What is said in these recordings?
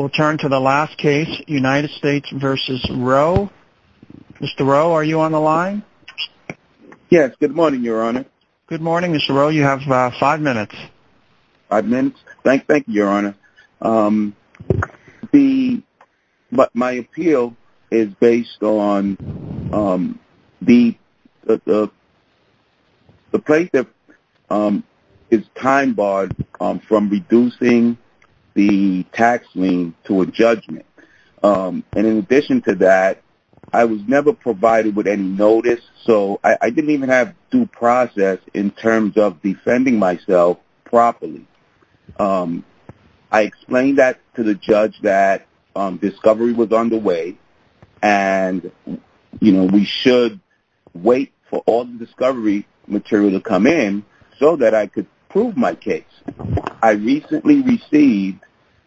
Mr. Rowe, are you on the line? Yes, good morning your honor. Good morning Mr. Rowe, you have 5 minutes. 5 minutes? Thank you your honor. My appeal is based on the plaintiff is time barred from reducing the tax lien to a judgment and in addition to that, I was never provided with any notice so I didn't even have due process in terms of defending myself properly. I explained that to the judge that discovery was underway and we should wait for all the discovery material to come in so that I could prove my case. I recently received,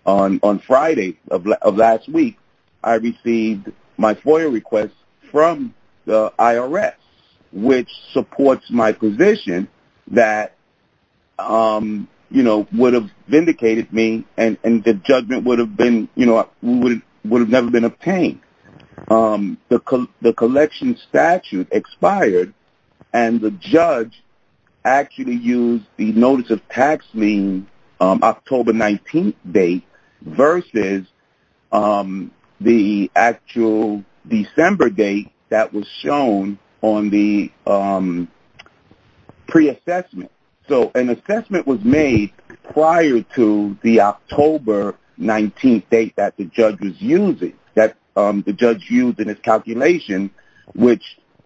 on Friday of last week, I received my FOIA request from the IRS which supports my position that would have vindicated me and the judgment would have never been obtained. The collection statute expired and the judge actually used the notice of tax lien October 19th date versus the actual December date that was shown on the pre-assessment. So an assessment was made prior to the October 19th date that the judge used in his calculation which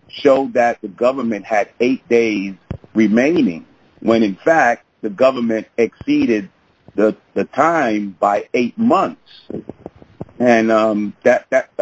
showed that the government had 8 days remaining when in fact the government exceeded the time by 8 months. That's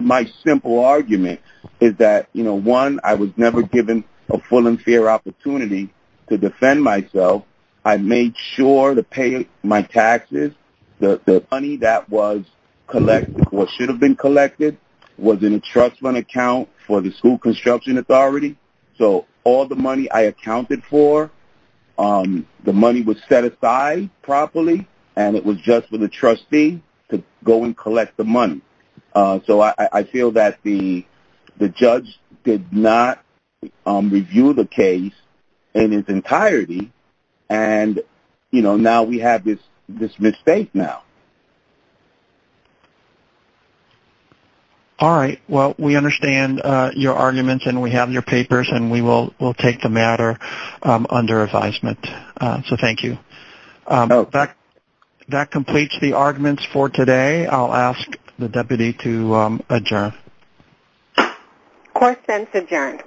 my simple argument. One, I was never given a full and fair opportunity to defend myself. I made sure to pay my taxes. The money that was collected or should have been collected was in a trust fund account for the school construction authority. So all the money I accounted for, the money was set aside properly and it was just for the trustee to go and collect the money. So I feel that the judge did not review the case in its entirety and now we have this mistake now. All right. Well, we understand your arguments and we have your papers and we will take the matter under advisement. So thank you. That completes the arguments for today. I'll ask the deputy to adjourn. Course ends adjourned.